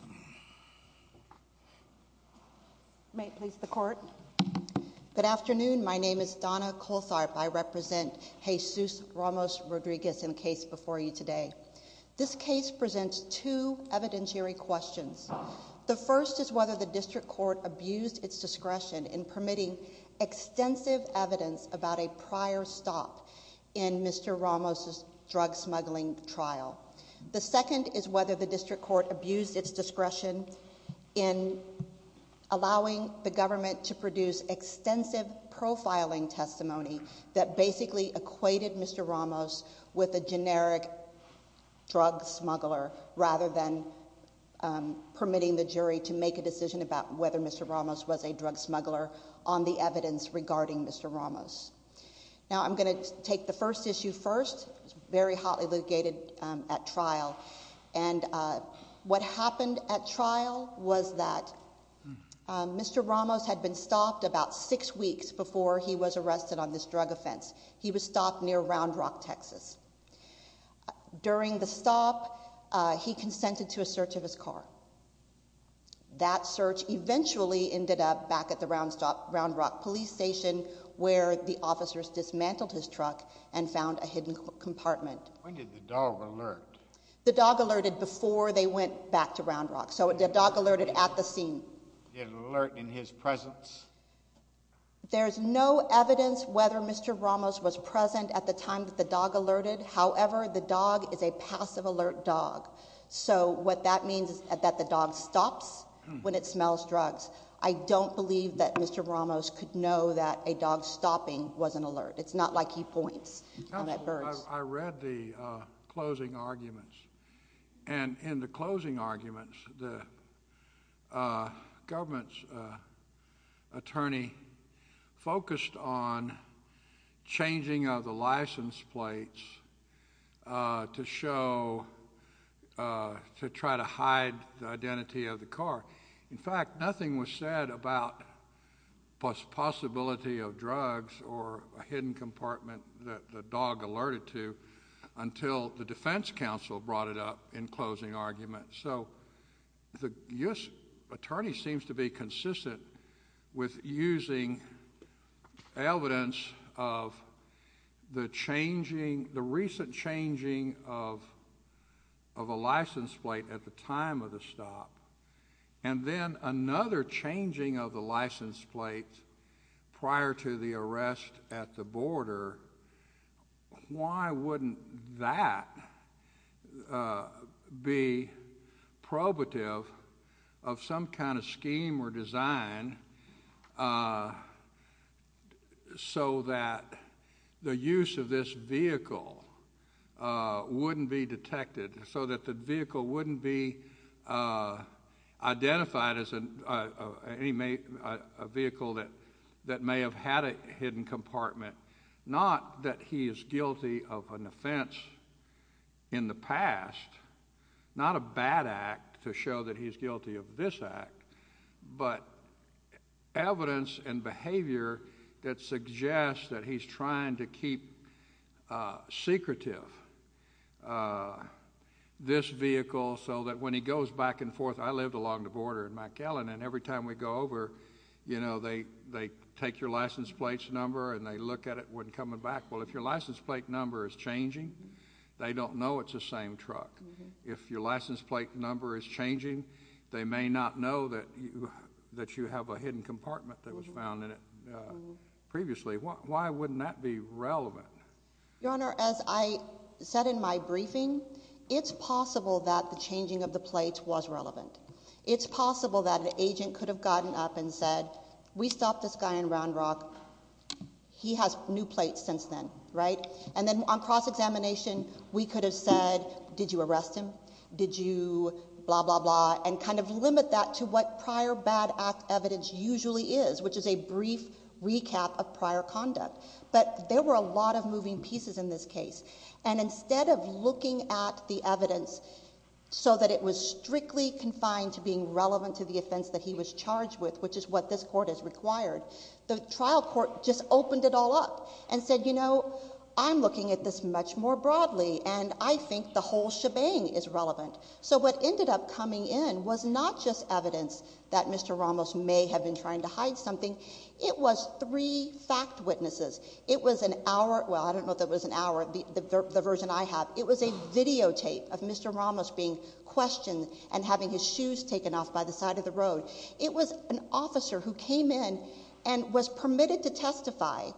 in the case before you today. This case presents two evidentiary questions. The first is whether the district court abused its discretion in permitting extensive evidence about a prior stop in Mr. Ramos' drug smuggling trial. The second is whether the district court abused its discretion in allowing the government to produce extensive profiling testimony that basically equated Mr. Ramos with a generic drug smuggler rather than permitting the jury to make a decision about whether Mr. Ramos was a drug smuggler on the evidence regarding Mr. Ramos. Now I'm going to take the first issue first. It was very hotly litigated at trial was that Mr. Ramos had been stopped about six weeks before he was arrested on this drug offense. He was stopped near Round Rock, Texas. During the stop, he consented to a search of his car. That search eventually ended up back at the Round Rock police station where the officers dismantled his truck and found a hidden compartment. When did the dog alert? The dog alerted before they went back to Round Rock. So the dog alerted at the scene. Did it alert in his presence? There's no evidence whether Mr. Ramos was present at the time that the dog alerted. However, the dog is a passive alert dog. So what that means is that the dog stops when it smells drugs. I don't believe that Mr. Ramos could know that a dog stopping was an alert. It's not like he points on that bird. I read the closing arguments and in the closing arguments, the government's attorney focused on changing of the license plates to show, to try to hide the identity of the car. In fact, nothing was said about possibility of drugs or a hidden compartment that the dog alerted to until the defense counsel brought it up in closing arguments. So the U.S. attorney seems to be consistent with using evidence of the changing, the recent changing of a license plate at the time of the stop. And then another changing of the license plate prior to the arrest at the border, why wouldn't that be probative of some kind of scheme or design so that the use of this vehicle wouldn't be detected, so that the vehicle wouldn't be identified as a vehicle that may have had a hidden compartment. Not that he is guilty of an offense in the past, not a bad act to show that he's guilty of this act, but evidence and behavior that suggests that he's trying to keep secretive this vehicle so that when he goes back and forth, I lived along the border in McAllen, and every time we go over, you know, they take your license plate's number and they look at it when coming back. Well, if your license plate number is changing, they don't know it's the same truck. If your license plate number is changing, they may not know that you have a hidden compartment that was found in it previously. Why wouldn't that be relevant? Your Honor, as I said in my briefing, it's possible that the changing of the plates was relevant. It's possible that an agent could have gotten up and said, we stopped this guy in Round Rock. He has new plates since then, right? And then on cross-examination, we could have said, did you arrest him? Did you blah, blah, blah, and kind of limit that to what prior bad act evidence usually is, which is a brief recap of prior conduct. But there were a lot of moving pieces in this case. And instead of looking at the evidence so that it was strictly confined to being relevant to the offense that he was charged with, which is what this Court has required, the trial court just opened it all up and said, you know, I'm looking at this much more broadly and I think the whole shebang is relevant. So what ended up coming in was not just evidence that Mr. Ramos may have been trying to hide something. It was three fact witnesses. It was an hour, well, I don't know if it was an hour, the version I have. It was a videotape of Mr. Ramos being questioned and having his officer who came in and was permitted to testify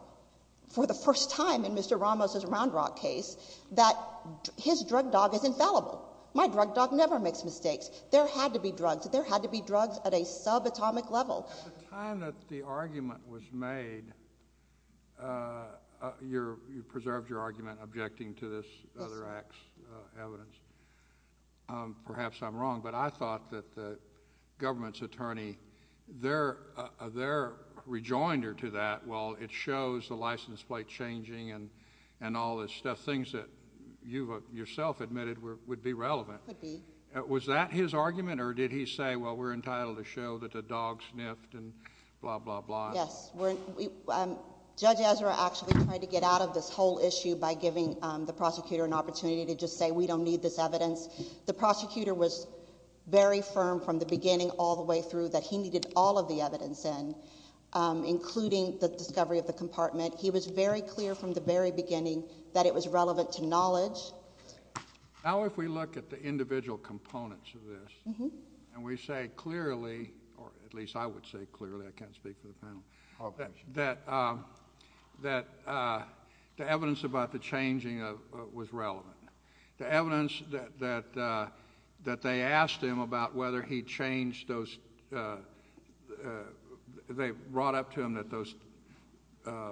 for the first time in Mr. Ramos' Round Rock case that his drug dog is infallible. My drug dog never makes mistakes. There had to be drugs. There had to be drugs at a subatomic level. At the time that the argument was made, you preserved your argument objecting to this other act's evidence. Perhaps I'm wrong, but I thought that the government's attorney, their rejoinder to that, well, it shows the license plate changing and all this stuff. Things that you yourself admitted would be relevant. Could be. Was that his argument or did he say, well, we're entitled to show that the dog sniffed and blah, blah, blah? Yes. Judge Ezra actually tried to get out of this whole issue by giving the prosecutor an opportunity to just say we don't need this evidence. The prosecutor was very firm from the beginning all the way through that he needed all of the evidence in, including the discovery of the compartment. He was very clear from the very beginning that it was relevant to knowledge. Now if we look at the individual components of this and we say clearly, or at least I would say clearly, I can't speak for the panel, that the evidence about the changing was relevant. The evidence that they asked him about whether he changed those, they brought up to him that those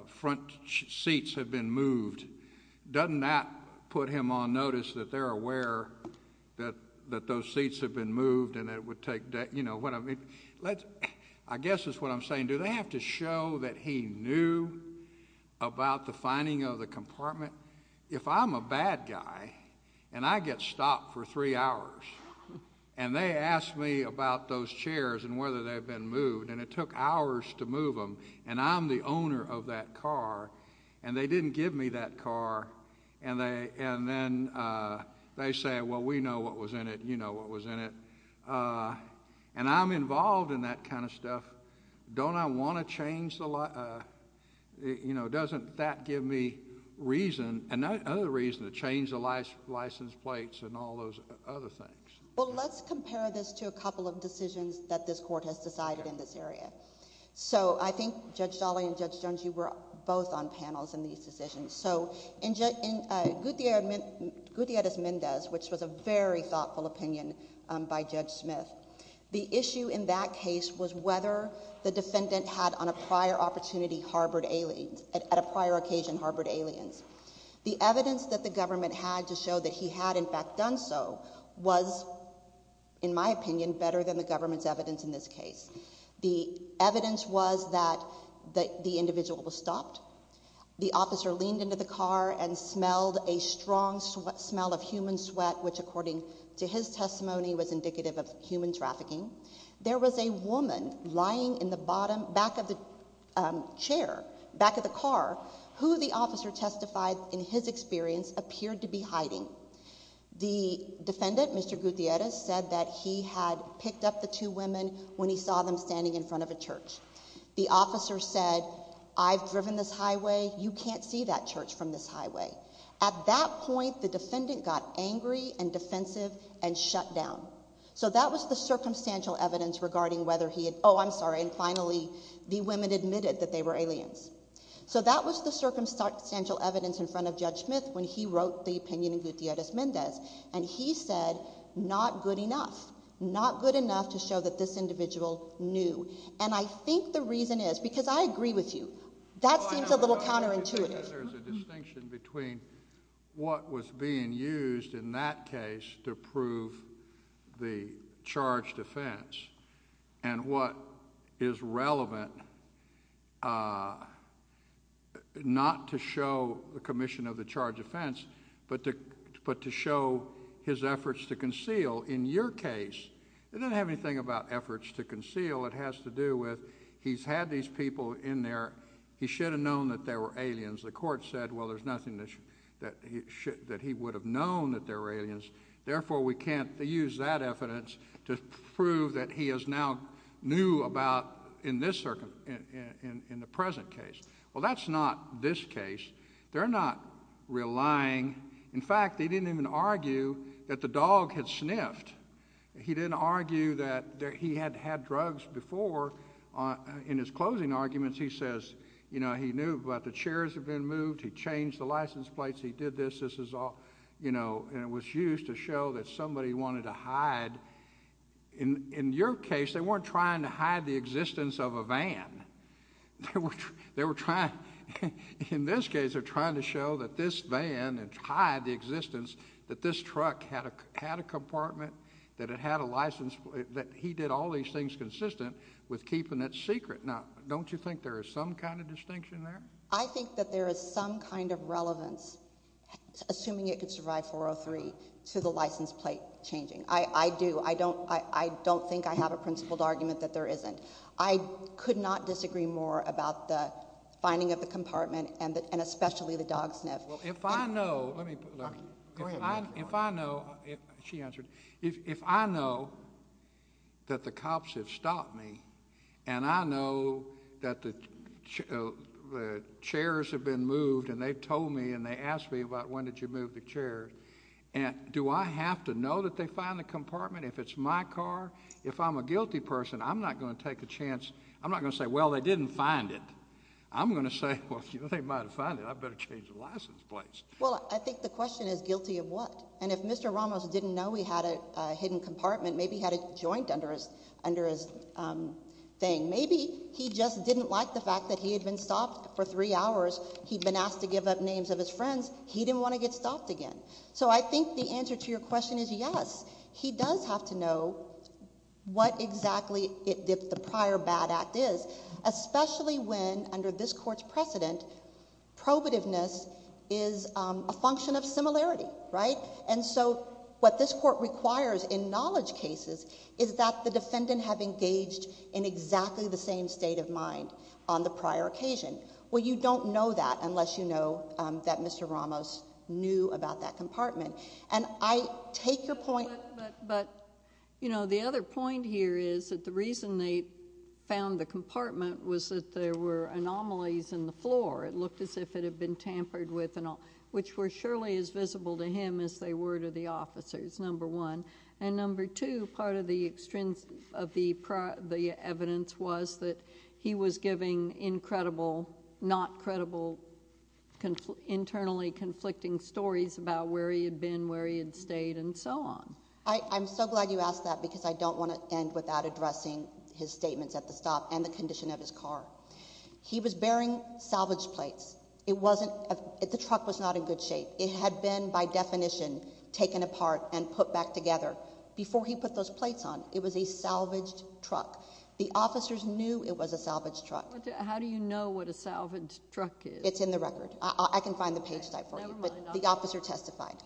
front seats had been moved. Doesn't that put him on notice that they're aware that those seats had been moved and it would take, you know, what I mean? I guess that's what I'm saying. Do they have to show that he knew about the finding of the compartment? If I'm a bad guy and I get stopped for three hours and they ask me about those chairs and whether they've been moved and it took hours to move them and I'm the owner of that car and they didn't give me that car and then they say, well, we know what was in it, you know what was in it, and I'm involved in that kind of stuff, don't I want to change the, you know, doesn't that give me reason, another reason to change the license plates and all those other things? Well, let's compare this to a couple of decisions that this Court has decided in this area. So I think Judge Dolley and Judge Jones, you were both on panels in these decisions. So in Gutierrez-Mendez, which was a very thoughtful opinion by Judge Smith, the issue in that the government had on a prior opportunity harbored aliens, at a prior occasion harbored aliens. The evidence that the government had to show that he had in fact done so was, in my opinion, better than the government's evidence in this case. The evidence was that the individual was stopped, the officer leaned into the car and smelled a strong smell of human sweat, which according to his testimony was indicative of human trafficking. There was a woman lying in the bottom back of the chair, back of the car, who the officer testified in his experience appeared to be hiding. The defendant, Mr. Gutierrez, said that he had picked up the two women when he saw them standing in front of a church. The officer said, I've driven this highway, you can't see that church from this highway. At that point, the defendant got angry and defensive and shut down. So that was the circumstantial evidence regarding whether he had, oh I'm sorry, and finally the women admitted that they were aliens. So that was the circumstantial evidence in front of Judge Smith when he wrote the opinion in Gutierrez-Mendez. And he said, not good enough. Not good enough to show that this individual knew. And I think the reason is, because I agree with you, that seems a little counterintuitive. I think there's a distinction between what was being used in that case to prove the charged offense and what is relevant not to show the commission of the charged offense, but to show his efforts to conceal. In your case, it doesn't have anything about efforts to conceal. It has to do with he's had these people in there. He should have known that they were aliens. The court said, well, there's nothing that he would have known that they were aliens. Therefore, we can't use that evidence to prove that he is now knew about in this, in the present case. Well, that's not this case. They're not relying, in fact they didn't even argue that the dog had sniffed. He didn't argue that he had had drugs before. In his closing arguments, he says, you know, he knew about the chairs had been moved. He changed the license plates. He did this. This is all, you know, and it was used to show that somebody wanted to hide. In your case, they weren't trying to hide the existence of a van. They were trying, in this case, they're trying to show that this van had hid the existence, that this truck had a compartment, that it had a license, that he did all these things consistent with keeping it secret. Now, don't you think there is some kind of distinction there? I think that there is some kind of relevance, assuming it could survive 403, to the license plate changing. I do. I don't think I have a principled argument that there isn't. I could not disagree more about the finding of the compartment and especially the dog sniff. Well, if I know, let me, if I know, she answered, if I know that the cops have stopped me and I know that the chairs have been moved and they've told me and they asked me about when did you move the chairs, do I have to know that they found the compartment if it's my car? If I'm a guilty person, I'm not going to take a chance. I'm not going to say, well, they didn't find it. I'm going to say, well, you know, they might have found it. I better change the license plates. Well, I think the question is guilty of what? And if Mr. Ramos didn't know he had a hidden compartment, maybe he had a joint under his thing. Maybe he just didn't like the fact that he had been stopped for three hours. He'd been asked to give up names of his friends. He didn't want to get stopped again. So I think the answer to your question is yes. He does have to know what exactly the prior bad act is, especially when under this court's precedent, probativeness is a function of similarity, right? And so what this court requires in knowledge cases is that the defendant have engaged in exactly the same state of mind on the prior occasion. Well, you don't know that unless you know that Mr. Ramos knew about that compartment. And I take your point... But, you know, the other point here is that the reason they found the compartment was that there were anomalies in the floor. It looked as if it had been tampered with, which were surely as visible to him as they were to the officers, number one. And number two, part of the evidence was that he was giving incredible, not credible, internally conflicting stories about where he had been, where he had stayed, and so on. I'm so glad you asked that because I don't want to end without addressing his statements at the stop and the condition of his car. He was bearing salvage plates. The truck was not in good shape. It had been, by definition, taken apart and put back together. Before he put those plates on, it was a salvaged truck. The officers knew it was a salvaged truck. How do you know what a salvaged truck is? It's in the record. I can find the page type for you, but the officer testified.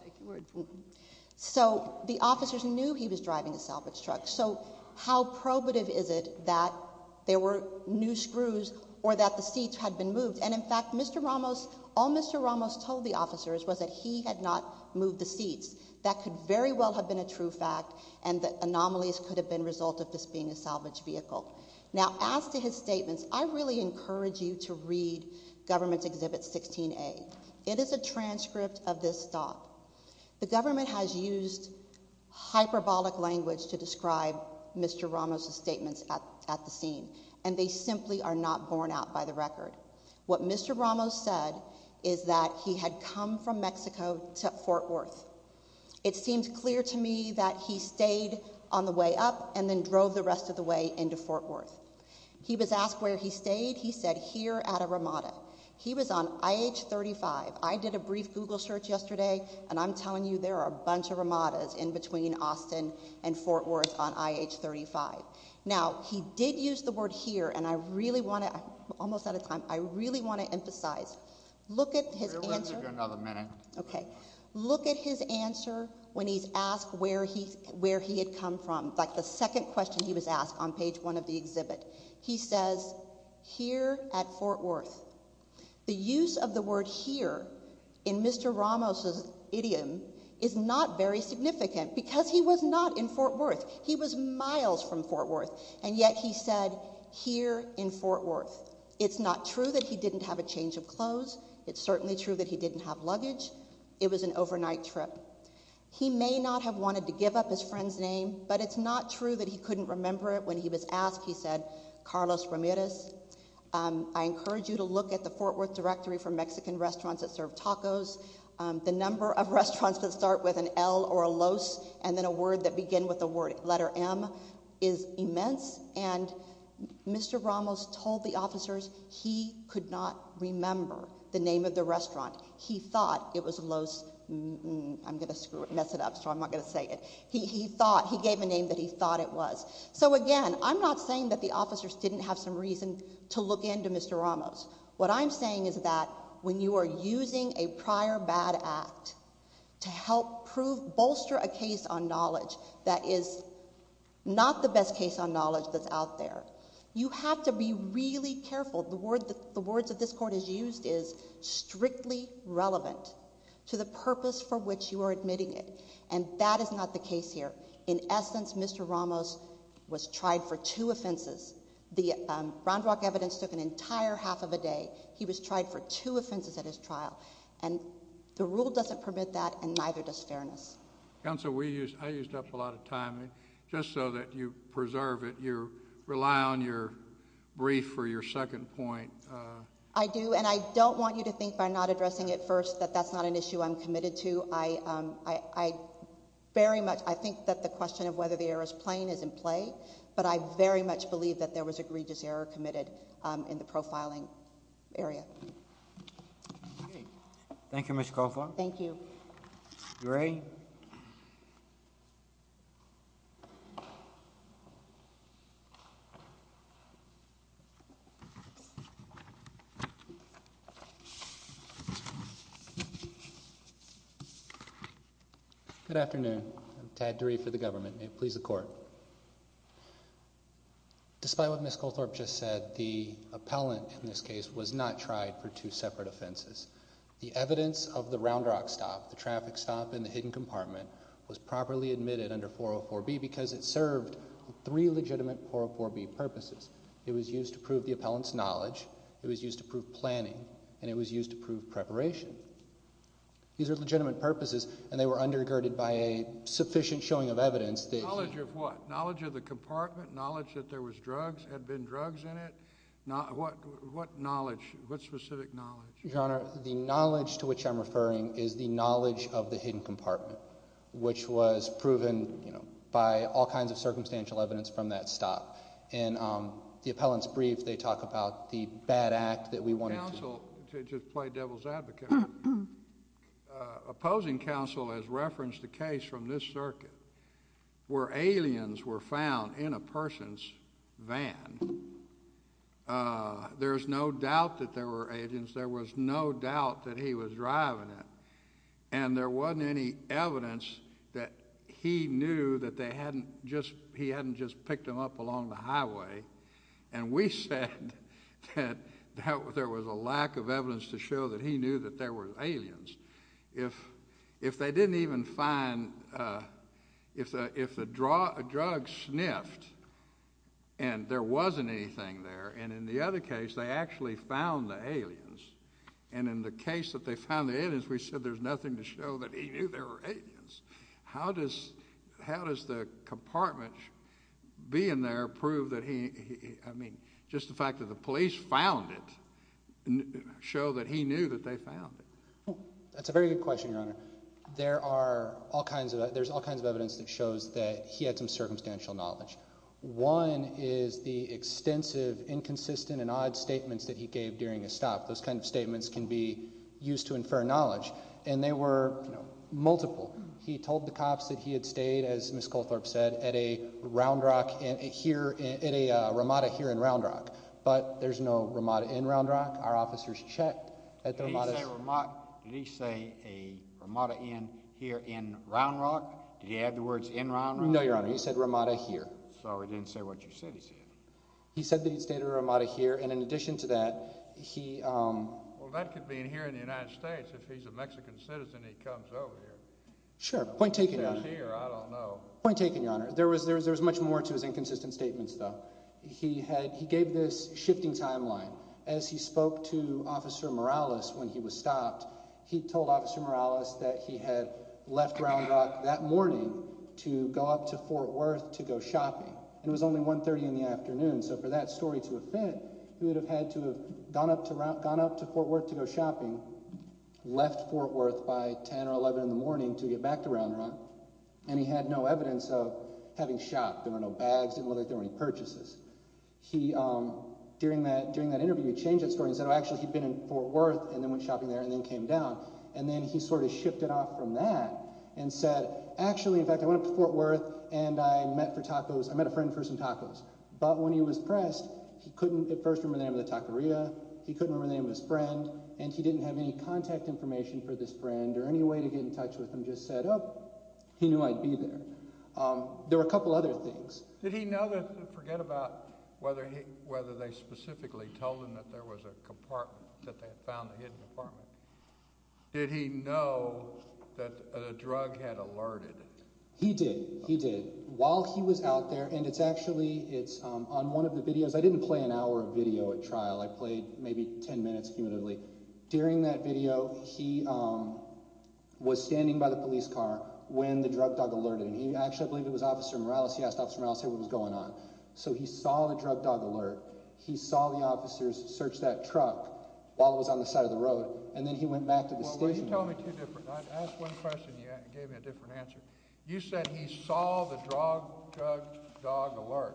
So the officers knew he was driving a salvaged truck. So how probative is it that there were new screws or that the seats had been moved? And, in fact, Mr. Ramos, all Mr. Ramos told the officers was that he had not moved the seats. That could very well have been a true fact and the anomalies could have been a result of this being a salvaged vehicle. Now, as to his statements, I really encourage you to read Government's Exhibit 16A. It is a transcript of this stop. The government has used hyperbolic language to describe Mr. Ramos' statements at the scene, and they simply are not borne out by the record. What Mr. Ramos said is that he had come from Mexico to Fort Worth. It seems clear to me that he stayed on the way up and then drove the rest of the way into Fort Worth. He was asked where he stayed. He said here at a Ramada. He was on IH 35. I did a brief Google search yesterday, and I'm telling you there are a bunch of Ramadas in between Austin and Fort Worth on IH 35. Now, he did use the word here, and I really want to—almost out of time—I really want to emphasize, look at his answer— We'll give you another minute. Look at his answer when he's asked where he had come from, like the second question he was asked on page one of the exhibit. He says, here at Fort Worth. The use of the word here in Mr. Ramos' idiom is not very significant because he was not in Fort Worth. He was miles from Fort Worth, and yet he said, here in Fort Worth. It's not true that he didn't have a change of clothes. It's certainly true that he didn't have luggage. It was an overnight trip. He may not have wanted to give up his friend's name, but it's not true that he couldn't remember it when he was asked. He said, Carlos Ramirez, I encourage you to look at the Fort Worth directory for Mexican restaurants that serve tacos. The number of restaurants that start with an L or a LOS and then a word that begin with the letter M is immense, and Mr. Ramos told the officers he could not remember the name of the restaurant. He thought it was LOS—I'm going to screw it, mess it up, so I'm not going to say it. He thought, he gave a name that he thought it was. So again, I'm not saying that the officers didn't have some reason to look into Mr. Ramos. What I'm saying is that when you are using a prior bad act to help prove, bolster a case on knowledge that is not the best case on knowledge that's out there, you have to be really careful. The words that this Court has used is strictly relevant to the purpose for which you are admitting it, and that is not the case here. In essence, Mr. Ramos was tried for two offenses. The Round Rock evidence took an entire half of a day. He was tried for two offenses at his trial, and the rule doesn't permit that, and neither does fairness. Counsel, we used—I used up a lot of time. Just so that you preserve it, you rely on your brief for your second point. I do, and I don't want you to think by not addressing it first that that's not an issue I'm committed to. I very much—I think that the question of whether the error is plain is in play, but I very much believe that there was egregious error committed in the profiling area. Thank you, Ms. Coffar. Thank you. DeRay? Good afternoon. I'm Tad DeRay for the government. May it please the Court. Despite what Ms. Goldthorpe just said, the appellant in this case was not tried for two offenses. The traffic stop in the hidden compartment was properly admitted under 404B because it served three legitimate 404B purposes. It was used to prove the appellant's knowledge, it was used to prove planning, and it was used to prove preparation. These are legitimate purposes, and they were undergirded by a sufficient showing of evidence that— Knowledge of what? Knowledge of the compartment, knowledge that there was drugs, had been drugs in it? What knowledge? What specific knowledge? Your Honor, the knowledge to which I'm referring is the knowledge of the hidden compartment, which was proven, you know, by all kinds of circumstantial evidence from that stop. In the appellant's brief, they talk about the bad act that we wanted to— Counsel, to play devil's advocate, opposing counsel has referenced the case from this circuit where aliens were found in a person's van. There's no doubt that there were aliens. There was no doubt that he was driving it, and there wasn't any evidence that he knew that they hadn't just—he hadn't just picked them up along the highway, and we said that there was a lack of evidence to show that he knew that there were aliens. If they didn't even find—if the drug sniffed and there wasn't anything there, and in the other case they actually found the aliens, and in the case that they found the aliens, we said there's nothing to show that he knew there were aliens. How does—how does the compartment being there prove that he—I mean, just the fact that the police found it show that he knew that they found it? That's a very good question, Your Honor. There are all kinds of—there's all kinds of evidence that shows that he had some circumstantial knowledge. One is the statements that he gave during his stop. Those kind of statements can be used to infer knowledge, and they were, you know, multiple. He told the cops that he had stayed, as Ms. Colthorpe said, at a Round Rock—here—at a Ramada here in Round Rock, but there's no Ramada in Round Rock. Our officers checked at the Ramada— Did he say Ramada—did he say a Ramada here in Round Rock? Did he add the words in Round Rock? No, Your Honor. He said Ramada here. So he didn't say what you said he said. He said that he'd stayed at a Ramada here, and in addition to that, he— Well, that could mean here in the United States. If he's a Mexican citizen, he comes over here. Sure. Point taken, Your Honor. If he was here, I don't know. Point taken, Your Honor. There was—there was much more to his inconsistent statements, though. He had—he gave this shifting timeline. As he spoke to Officer Morales when he was stopped, he told Officer Morales that he had left Round Rock that morning to go up to Fort Worth to go shopping, and it was only 1.30 in the afternoon. So for that story to have fit, he would have had to have gone up to—gone up to Fort Worth to go shopping, left Fort Worth by 10 or 11 in the morning to get back to Round Rock, and he had no evidence of having shopped. There were no bags. Didn't look like there were any purchases. He—during that—during that interview, he changed that story and said, oh, actually, he'd been in Fort Worth and then went shopping there and then came down, and then he sort of shifted off from that and said, actually, in fact, I went up to Fort Worth and I met a friend for some tacos. But when he was pressed, he couldn't at first remember the name of the taqueria, he couldn't remember the name of his friend, and he didn't have any contact information for this friend or any way to get in touch with him, just said, oh, he knew I'd be there. There were a couple other things. Did he know that—forget about whether he—whether they specifically told him that there was a compartment, that they had found a hidden compartment. Did he know that a drug had alerted him? He did. He did. While he was out there, and it's actually—it's on one of the videos—I didn't play an hour of video at trial. I played maybe 10 minutes, cumulatively. During that video, he was standing by the police car when the drug dog alerted him. He—actually, I believe it was Officer Morales. He asked Officer Morales what was going on. So he saw the drug dog alert. He saw the officers search that truck while it was on the side of the road, and then he went back to the station. Well, you tell me two different—ask one question, and you gave me a different answer. You said he saw the drug dog alert.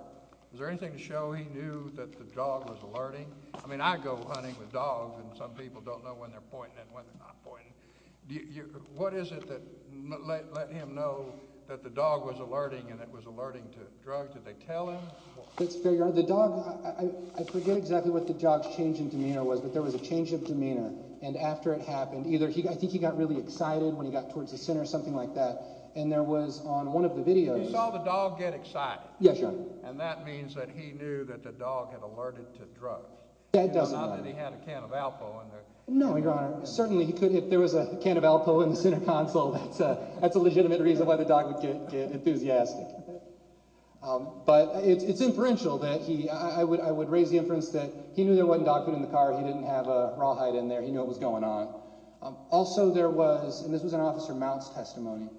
Was there anything to show he knew that the dog was alerting? I mean, I go hunting with dogs, and some people don't know when they're pointing and when they're not pointing. What is it that let him know that the dog was alerting and it was alerting to drugs? Did they tell him? Let's figure out. The dog—I forget exactly what the dog's change in demeanor was, but there was a change of demeanor, and after it happened, either he—I think he got really excited when he got towards the center or something like that, and there was on one of the videos— He saw the dog get excited. Yes, Your Honor. And that means that he knew that the dog had alerted to drugs. That does not. Not that he had a can of Alpo in there. No, Your Honor. Certainly, he could—if there was a can of Alpo in the center console, that's a legitimate reason why the dog would get enthusiastic. But it's inferential that he—I would raise the inference that he knew there wasn't dog food in the car. He didn't have a rawhide in there. He knew what was going on. Also, there was—and this was an Officer Mount's testimony—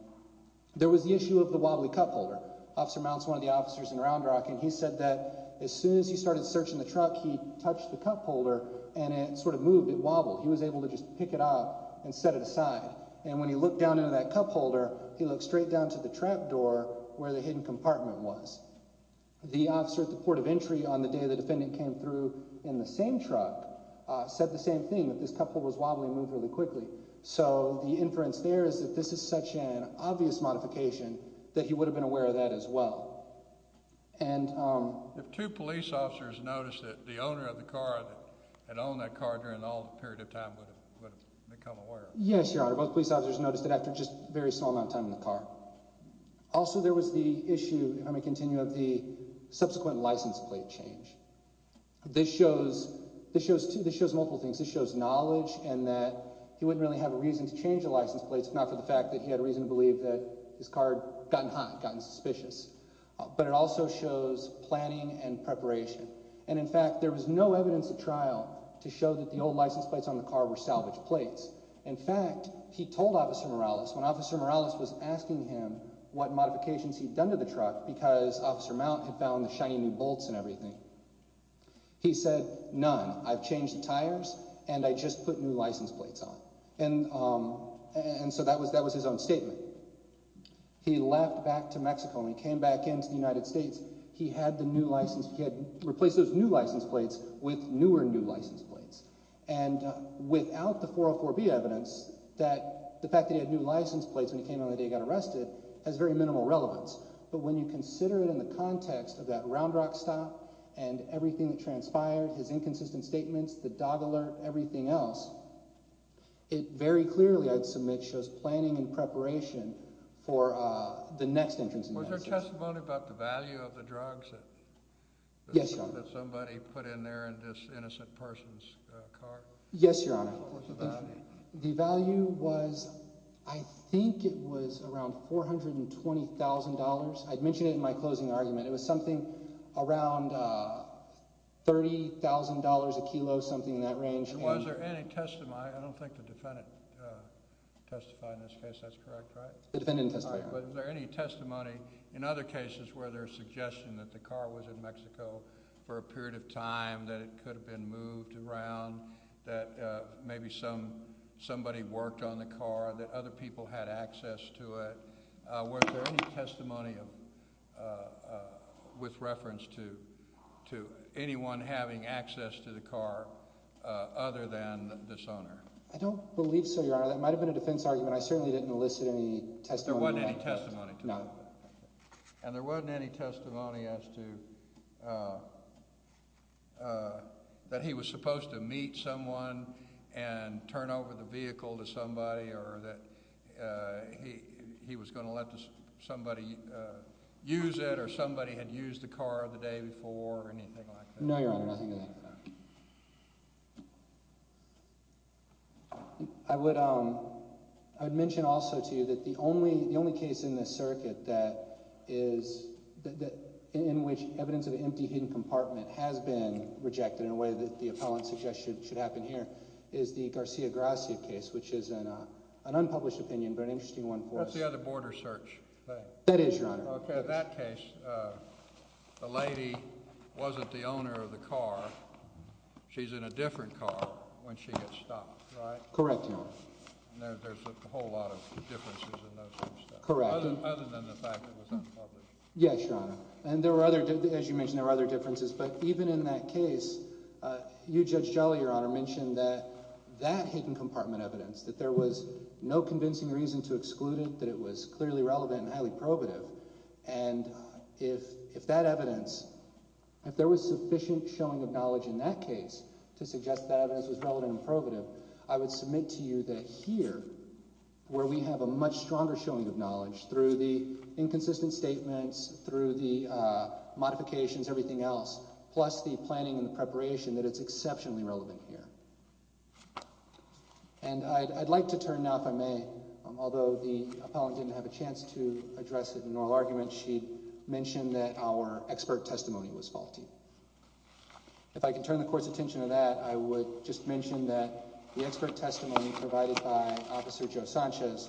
there was the issue of the wobbly cup holder. Officer Mount's one of the officers in Round Rock, and he said that as soon as he started searching the truck, he touched the cup holder, and it sort of moved. It wobbled. He was able to just pick it up and set it aside. And when he looked down into that cup holder, he looked straight down to the trap door where the hidden compartment was. The officer at the port of entry on the day the defendant came through in the same truck said the same thing, that this cup holder was wobbly and moved really quickly. So the inference there is that this is such an obvious modification that he would have been aware of that as well. And— If two police officers noticed it, the owner of the car that had owned that car during all the period of time would have become aware of it. Yes, Your Honor. Both police officers noticed it after just a very small amount of time in the car. Also, there was the issue, if I may continue, of the subsequent license plate change. This shows multiple things. This shows knowledge and that he wouldn't really have a reason to change the license plates if not for the fact that he had a reason to believe that his car had gotten hot, gotten suspicious. But it also shows planning and preparation. And, in fact, there was no evidence at trial to show that the old license plates on the car were salvaged plates. In fact, he told Officer Morales, when Officer Morales was asking him what modifications he'd done to the truck, because Officer Mount had found the shiny new bolts and everything, he said, none. I've changed the tires, and I just put new license plates on. And so that was his own statement. He left back to Mexico, and when he came back into the United States, he had replaced those new license plates with newer new license plates. And without the 404B evidence, the fact that he had new license plates when he came in on the day he got arrested has very minimal relevance. But when you consider it in the context of that Round Rock stop and everything that transpired, his inconsistent statements, the dog alert, everything else, it very clearly, I'd submit, shows planning and preparation for the next entrance. Was there testimony about the value of the drugs that somebody put in there in this innocent person's car? Yes, Your Honor. What was the value? The value was, I think it was around $420,000. I'd mentioned it in my closing argument. It was something around $30,000 a kilo, something in that range. Was there any testimony? I don't think the defendant testified in this case. That's correct, right? The defendant testified. But was there any testimony in other cases where there's suggestion that the car was in Mexico for a period of time, that it could have been moved around, that maybe somebody worked on the car, that other people had access to it? Was there any testimony with reference to anyone having access to the car other than this owner? I don't believe so, Your Honor. That might have been a defense argument. I certainly didn't enlist any testimony. There wasn't any testimony to that? No. And there wasn't any testimony as to that he was supposed to meet someone and turn over the vehicle to somebody or that he was going to let somebody use it or somebody had used the car the day before or anything like that? No, Your Honor, nothing like that. I would mention also to you that the only case in this circuit in which evidence of an empty, hidden compartment has been rejected in a way that the appellant suggests should happen here is the Garcia-Garcia case, which is an unpublished opinion but an interesting one for us. That's the other border search. That is, Your Honor. Okay. In that case, the lady wasn't the owner of the car. She's in a different car when she gets stopped, right? Correct, Your Honor. And there's a whole lot of differences in those kinds of stuff. Correct. Other than the fact that it was unpublished. Yes, Your Honor. And there were other – as you mentioned, there were other differences. But even in that case, you, Judge Jolly, Your Honor, mentioned that that hidden compartment evidence, that there was no convincing reason to exclude it, that it was clearly relevant and highly probative. And if that evidence – if there was sufficient showing of knowledge in that case to suggest that evidence was relevant and probative, I would submit to you that here, where we have a much stronger showing of knowledge through the inconsistent statements, through the modifications, everything else, plus the planning and the preparation, that it's exceptionally relevant here. And I'd like to turn now, if I may, although the appellant didn't have a chance to address it in oral argument, she mentioned that our expert testimony was faulty. If I can turn the Court's attention to that, I would just mention that the expert testimony provided by Officer Joe Sanchez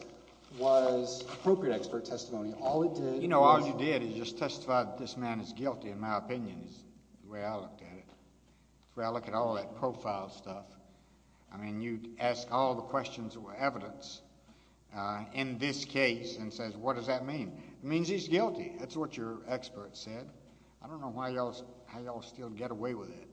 was appropriate expert testimony. All it did was – You know, all you did is just testify that this man is guilty, in my opinion, is the way I looked at it. That's the way I look at all that profile stuff. I mean, you'd ask all the questions that were evidence in this case and says, what does that mean? It means he's guilty. That's what your expert said. I don't know how y'all still get away with it.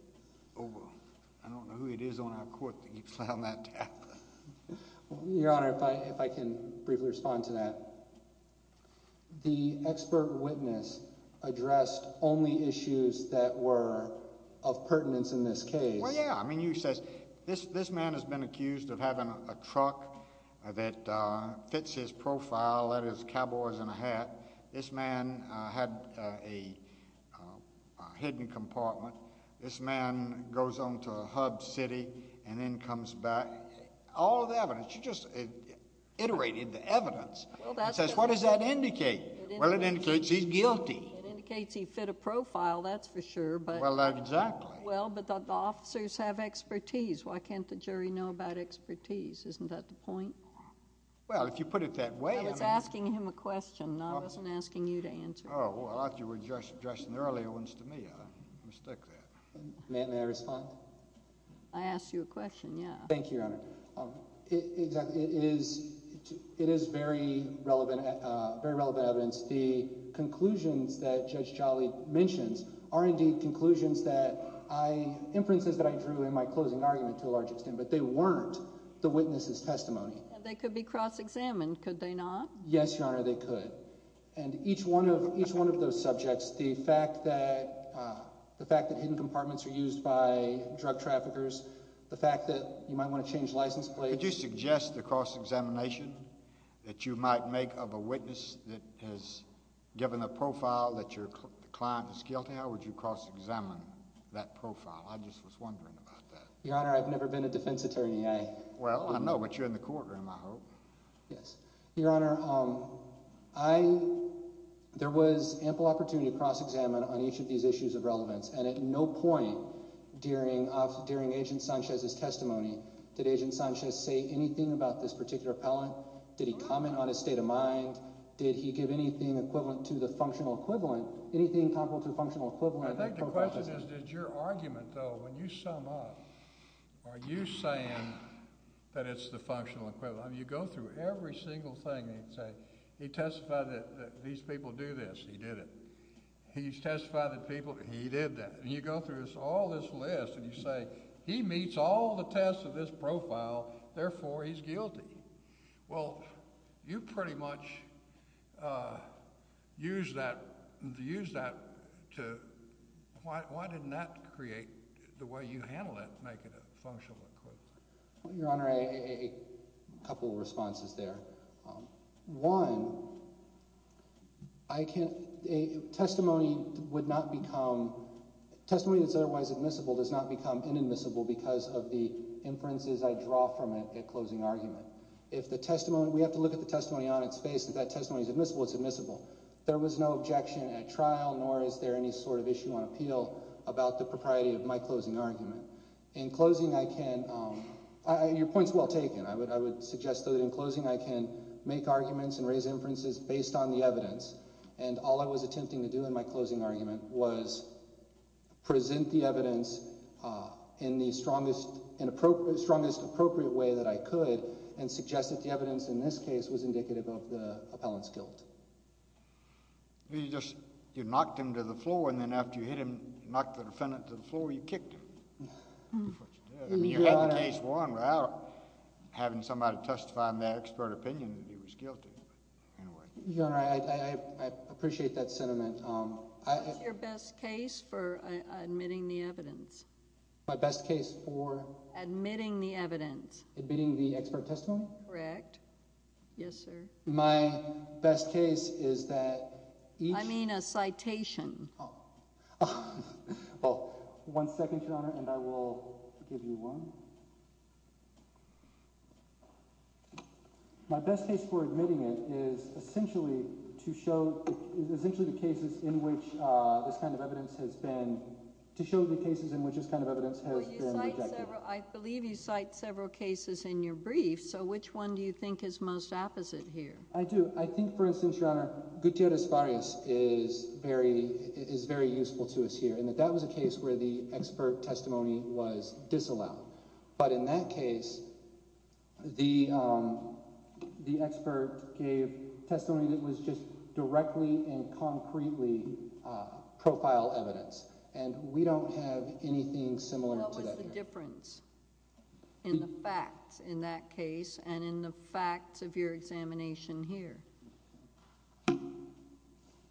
I don't know who it is on our Court that keeps laying that down. Your Honor, if I can briefly respond to that. The expert witness addressed only issues that were of pertinence in this case. Well, yeah. I mean, you said this man has been accused of having a truck that fits his profile, that is cowboys in a hat. This man had a hidden compartment. This man goes on to Hub City and then comes back. All the evidence, you just iterated the evidence and says, what does that indicate? Well, it indicates he's guilty. It indicates he fit a profile, that's for sure, but – Well, exactly. Well, but the officers have expertise. Why can't the jury know about expertise? Isn't that the point? Well, if you put it that way – I was asking him a question. I wasn't asking you to answer. Oh, well, I thought you were addressing the earlier ones to me. I mistake that. May I respond? I asked you a question, yeah. Thank you, Your Honor. It is very relevant evidence. The conclusions that Judge Jolly mentions are indeed conclusions that I – inferences that I drew in my closing argument to a large extent, but they weren't the witness's testimony. They could be cross-examined, could they not? Yes, Your Honor, they could. And each one of those subjects, the fact that hidden compartments are used by drug traffickers, the fact that you might want to change license plates – Could you suggest a cross-examination that you might make of a witness that has given a profile that the client is guilty of? Would you cross-examine that profile? I just was wondering about that. Your Honor, I've never been a defense attorney. Well, I know, but you're in the courtroom, I hope. Yes. Your Honor, I – there was ample opportunity to cross-examine on each of these issues of relevance, and at no point during Agent Sanchez's testimony did Agent Sanchez say anything about this particular appellant. Did he comment on his state of mind? Did he give anything equivalent to the functional equivalent, anything comparable to the functional equivalent? I think the question is, did your argument, though, when you sum up, are you saying that it's the functional equivalent? I mean you go through every single thing. He testified that these people do this. He did it. He testified that people – he did that. And you go through all this list and you say he meets all the tests of this profile, therefore he's guilty. Well, you pretty much used that to – why didn't that create the way you handled it to make it a functional equivalent? Well, Your Honor, a couple of responses there. One, testimony would not become – testimony that's otherwise admissible does not become inadmissible because of the inferences I draw from it at closing argument. If the testimony – we have to look at the testimony on its face. If that testimony is admissible, it's admissible. There was no objection at trial, nor is there any sort of issue on appeal about the propriety of my closing argument. In closing, I can – your point is well taken. I would suggest though that in closing I can make arguments and raise inferences based on the evidence, and all I was attempting to do in my closing argument was present the evidence in the strongest appropriate way that I could and suggest that the evidence in this case was indicative of the appellant's guilt. You just – you knocked him to the floor and then after you hit him, knocked the defendant to the floor, you kicked him. That's what you did. I mean you had the case won without having somebody testifying their expert opinion that he was guilty. Your Honor, I appreciate that sentiment. What's your best case for admitting the evidence? My best case for? Admitting the evidence. Admitting the expert testimony? Correct. Yes, sir. My best case is that each – I mean a citation. One second, Your Honor, and I will give you one. My best case for admitting it is essentially to show – is essentially the cases in which this kind of evidence has been – to show the cases in which this kind of evidence has been rejected. I believe you cite several cases in your brief, so which one do you think is most apposite here? I do. I think, for instance, Your Honor, Gutierrez-Vargas is very useful to us here in that that was a case where the expert testimony was disallowed. But in that case, the expert gave testimony that was just directly and concretely profile evidence, and we don't have anything similar to that here. In the facts in that case and in the facts of your examination here.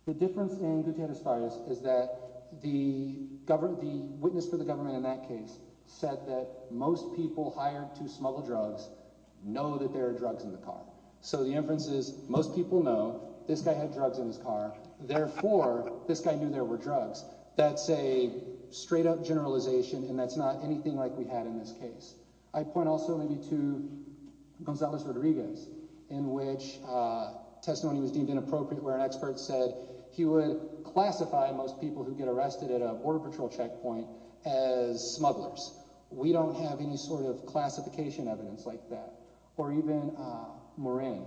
The difference in Gutierrez-Vargas is that the witness for the government in that case said that most people hired to smuggle drugs know that there are drugs in the car. So the inference is most people know this guy had drugs in his car. Therefore, this guy knew there were drugs. That's a straight-up generalization, and that's not anything like we had in this case. I point also maybe to Gonzales-Rodriguez, in which testimony was deemed inappropriate where an expert said he would classify most people who get arrested at a Border Patrol checkpoint as smugglers. We don't have any sort of classification evidence like that, or even Moraine.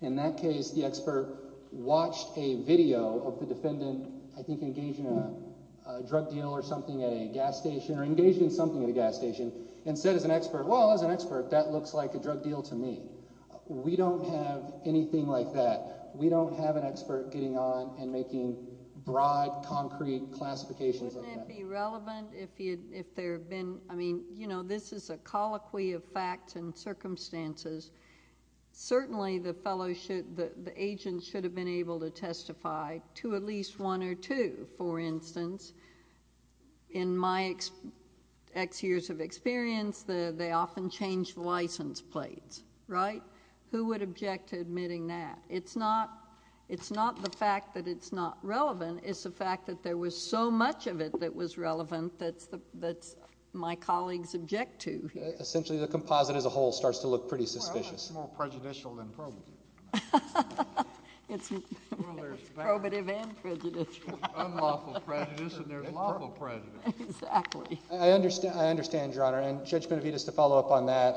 In that case, the expert watched a video of the defendant, I think engaged in a drug deal or something at a gas station, or engaged in something at a gas station, and said as an expert, well, as an expert, that looks like a drug deal to me. We don't have anything like that. We don't have an expert getting on and making broad, concrete classifications like that. Wouldn't it be relevant if there had been, I mean, you know, this is a colloquy of facts and circumstances. Certainly, the agent should have been able to testify to at least one or two. For instance, in my X years of experience, they often change license plates, right? Who would object to admitting that? It's not the fact that it's not relevant. It's the fact that there was so much of it that was relevant that my colleagues object to here. And I think that's, essentially, the composite as a whole starts to look pretty suspicious. Well, it's more prejudicial than probative. It's probative and prejudicial. Unlawful prejudice, and there's lawful prejudice. Exactly. I understand, Your Honor, and Judge Benavides, to follow up on that,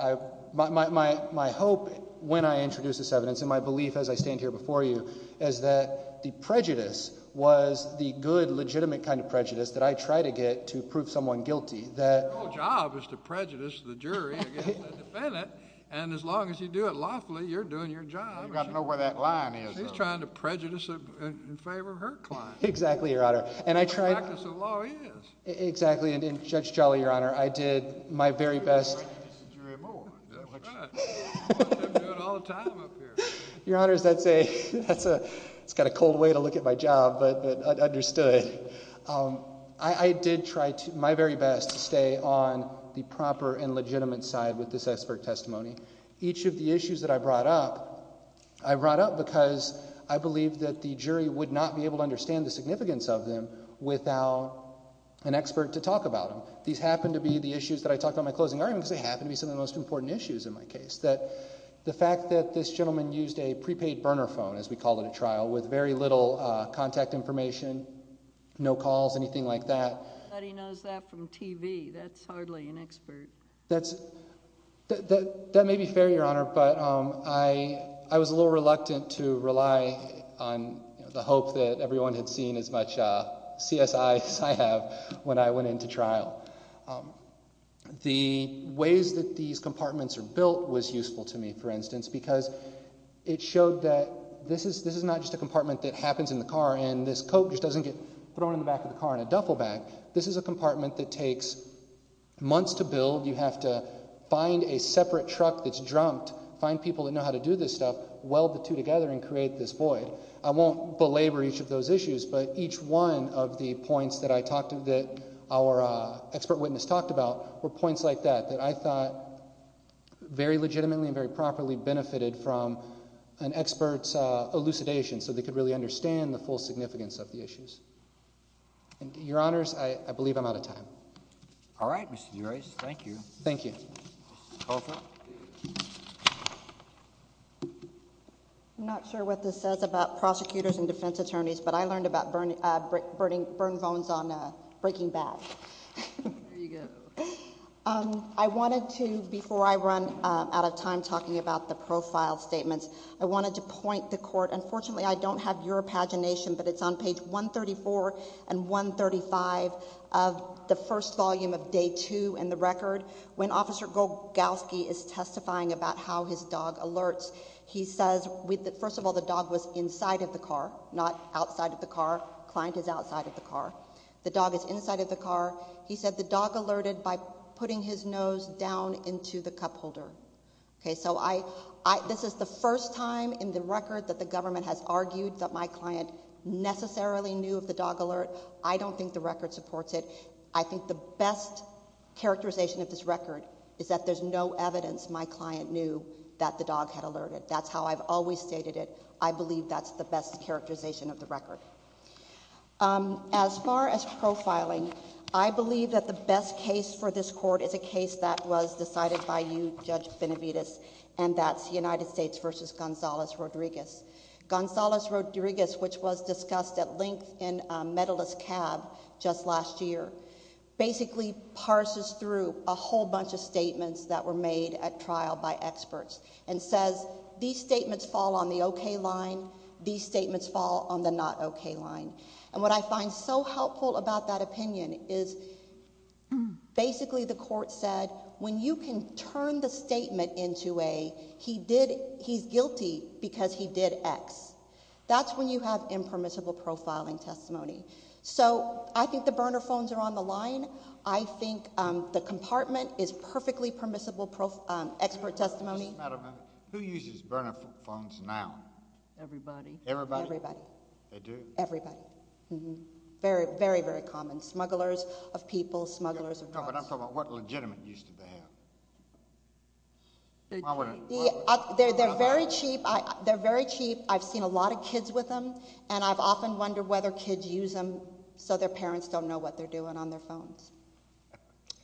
my hope when I introduce this evidence, and my belief as I stand here before you, is that the prejudice was the good, legitimate kind of prejudice that I try to get to prove someone guilty. Your job is to prejudice the jury against the defendant, and as long as you do it lawfully, you're doing your job. You've got to know where that line is, though. He's trying to prejudice in favor of her client. Exactly, Your Honor. That's what the practice of law is. Exactly. And Judge Jolly, Your Honor, I did my very best. He's a jury of more. That's right. That's what I'm doing all the time up here. Your Honor, it's got a cold way to look at my job, but understood. I did try my very best to stay on the proper and legitimate side with this expert testimony. Each of the issues that I brought up, I brought up because I believe that the jury would not be able to understand the significance of them without an expert to talk about them. These happen to be the issues that I talk about in my closing arguments. They happen to be some of the most important issues in my case. The fact that this gentleman used a prepaid burner phone, as we call it at trial, with very little contact information, no calls, anything like that. Nobody knows that from TV. That's hardly an expert. That may be fair, Your Honor, but I was a little reluctant to rely on the hope that everyone had seen as much CSI as I have when I went into trial. The ways that these compartments are built was useful to me, for instance, because it showed that this is not just a compartment that happens in the car and this coat just doesn't get thrown in the back of the car in a duffel bag. This is a compartment that takes months to build. You have to find a separate truck that's drummed, find people that know how to do this stuff, weld the two together, and create this void. I won't belabor each of those issues, but each one of the points that our expert witness talked about were points like that, that I thought very legitimately and very properly benefited from an expert's elucidation so they could really understand the full significance of the issues. Your Honors, I believe I'm out of time. All right, Mr. Durace. Thank you. Thank you. Counsel? I'm not sure what this says about prosecutors and defense attorneys, but I learned about burning bones on a breaking bag. There you go. I wanted to, before I run out of time talking about the profile statements, I wanted to point the Court. Mr. Golgowski is testifying about how his dog alerts. He says, first of all, the dog was inside of the car, not outside of the car. Client is outside of the car. The dog is inside of the car. He said the dog alerted by putting his nose down into the cup holder. Okay, so this is the first time in the record that the government has argued that my client necessarily knew of the dog alert. I don't think the record supports it. I think the best characterization of this record is that there's no evidence my client knew that the dog had alerted. That's how I've always stated it. I believe that's the best characterization of the record. As far as profiling, I believe that the best case for this Court is a case that was decided by you, Judge Benavides, and that's United States v. Gonzales-Rodriguez. Gonzales-Rodriguez, which was discussed at length in Medalist Cab just last year, basically parses through a whole bunch of statements that were made at trial by experts and says, these statements fall on the okay line, these statements fall on the not okay line. And what I find so helpful about that opinion is basically the Court said, when you can turn the statement into a he's guilty because he did X, that's when you have impermissible profiling testimony. So I think the burner phones are on the line. I think the compartment is perfectly permissible expert testimony. Who uses burner phones now? Everybody. Everybody? Everybody. They do? Everybody. Very, very, very common. Smugglers of people, smugglers of drugs. No, but I'm talking about what legitimate use do they have? They're very cheap. They're very cheap. I've seen a lot of kids with them, and I've often wondered whether kids use them so their parents don't know what they're doing on their phones.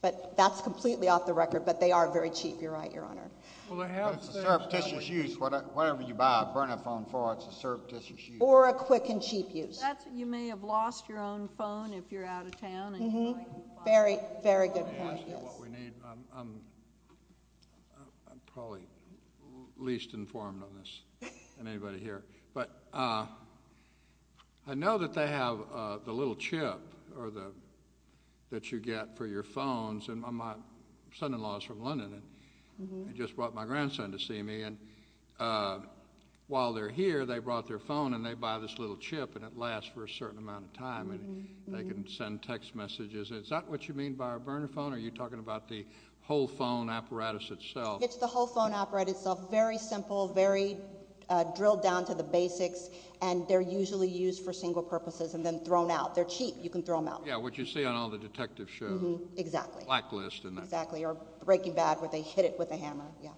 But that's completely off the record, but they are very cheap. You're right, Your Honor. It's a surreptitious use. Whatever you buy a burner phone for, it's a surreptitious use. Or a quick and cheap use. You may have lost your own phone if you're out of town. Very, very good point, yes. Let me ask you what we need. I'm probably least informed on this than anybody here. But I know that they have the little chip that you get for your phones. My son-in-law is from London, and he just brought my grandson to see me. And while they're here, they brought their phone, and they buy this little chip, and it lasts for a certain amount of time. And they can send text messages. Is that what you mean by a burner phone, or are you talking about the whole phone apparatus itself? It's the whole phone apparatus itself. Very simple, very drilled down to the basics, and they're usually used for single purposes and then thrown out. They're cheap. You can throw them out. Yeah, what you see on all the detective shows. Exactly. Blacklist. Exactly, or Breaking Bad where they hit it with a hammer. Yeah.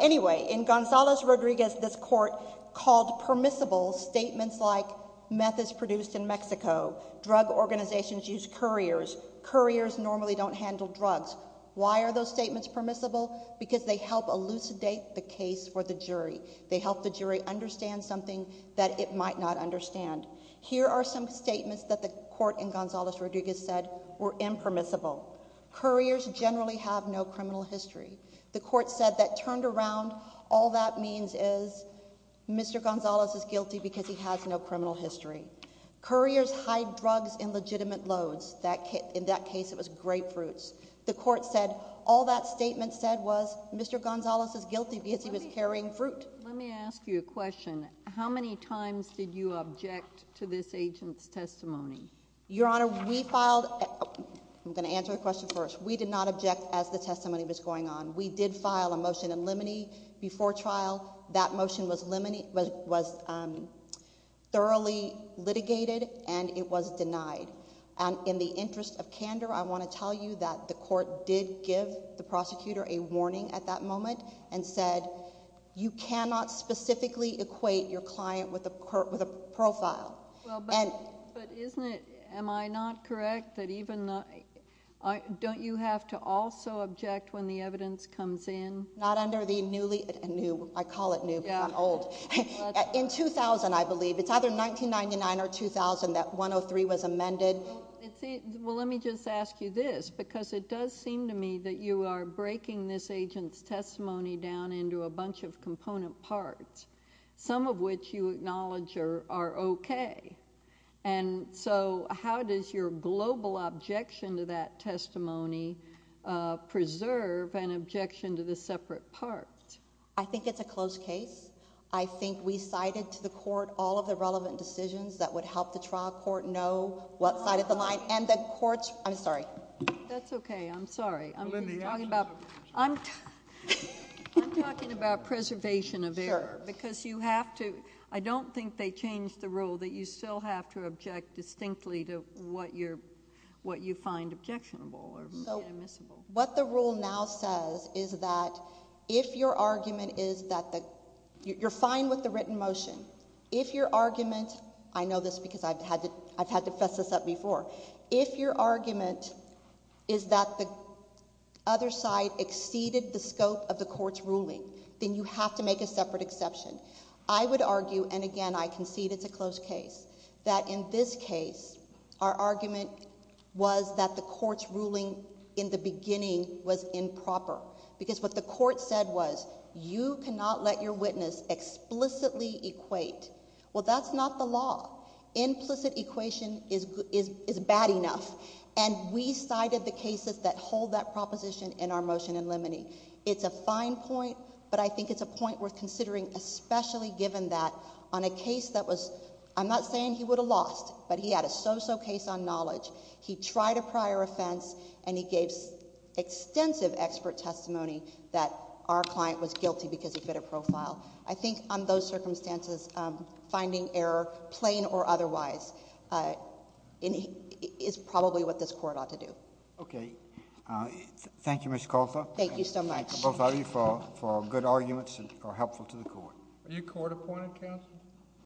Anyway, in Gonzales-Rodriguez, this court called permissible statements like, meth is produced in Mexico, drug organizations use couriers, couriers normally don't handle drugs. Why are those statements permissible? Because they help elucidate the case for the jury. They help the jury understand something that it might not understand. Here are some statements that the court in Gonzales-Rodriguez said were impermissible. Couriers generally have no criminal history. The court said that turned around, all that means is Mr. Gonzales is guilty because he has no criminal history. Couriers hide drugs in legitimate loads. In that case, it was grapefruits. The court said all that statement said was Mr. Gonzales is guilty because he was carrying fruit. Let me ask you a question. How many times did you object to this agent's testimony? Your Honor, we filed—I'm going to answer the question first. We did not object as the testimony was going on. We did file a motion in limine before trial. That motion was thoroughly litigated and it was denied. And in the interest of candor, I want to tell you that the court did give the prosecutor a warning at that moment and said you cannot specifically equate your client with a profile. But isn't it—am I not correct that even—don't you have to also object when the evidence comes in? Not under the newly—new, I call it new because I'm old. In 2000, I believe. It's either 1999 or 2000 that 103 was amended. Well, let me just ask you this because it does seem to me that you are breaking this agent's testimony down into a bunch of component parts, some of which you acknowledge are okay. And so how does your global objection to that testimony preserve an objection to the separate part? I think it's a close case. I think we cited to the court all of the relevant decisions that would help the trial court know what side of the line. And the courts—I'm sorry. That's okay. I'm sorry. I'm talking about preservation of error. Because you have to—I don't think they changed the rule that you still have to object distinctly to what you find objectionable or admissible. What the rule now says is that if your argument is that the—you're fine with the written motion. If your argument—I know this because I've had to fess this up before. If your argument is that the other side exceeded the scope of the court's ruling, then you have to make a separate exception. I would argue, and again I concede it's a close case, that in this case our argument was that the court's ruling in the beginning was improper. Because what the court said was you cannot let your witness explicitly equate. Well, that's not the law. Implicit equation is bad enough. And we cited the cases that hold that proposition in our motion in limine. It's a fine point, but I think it's a point worth considering, especially given that on a case that was—I'm not saying he would have lost, but he had a so-so case on knowledge. He tried a prior offense, and he gave extensive expert testimony that our client was guilty because he fit a profile. I think on those circumstances, finding error, plain or otherwise, is probably what this court ought to do. Okay. Thank you, Ms. Kalfa. Thank you so much. We both argue for good arguments that are helpful to the court.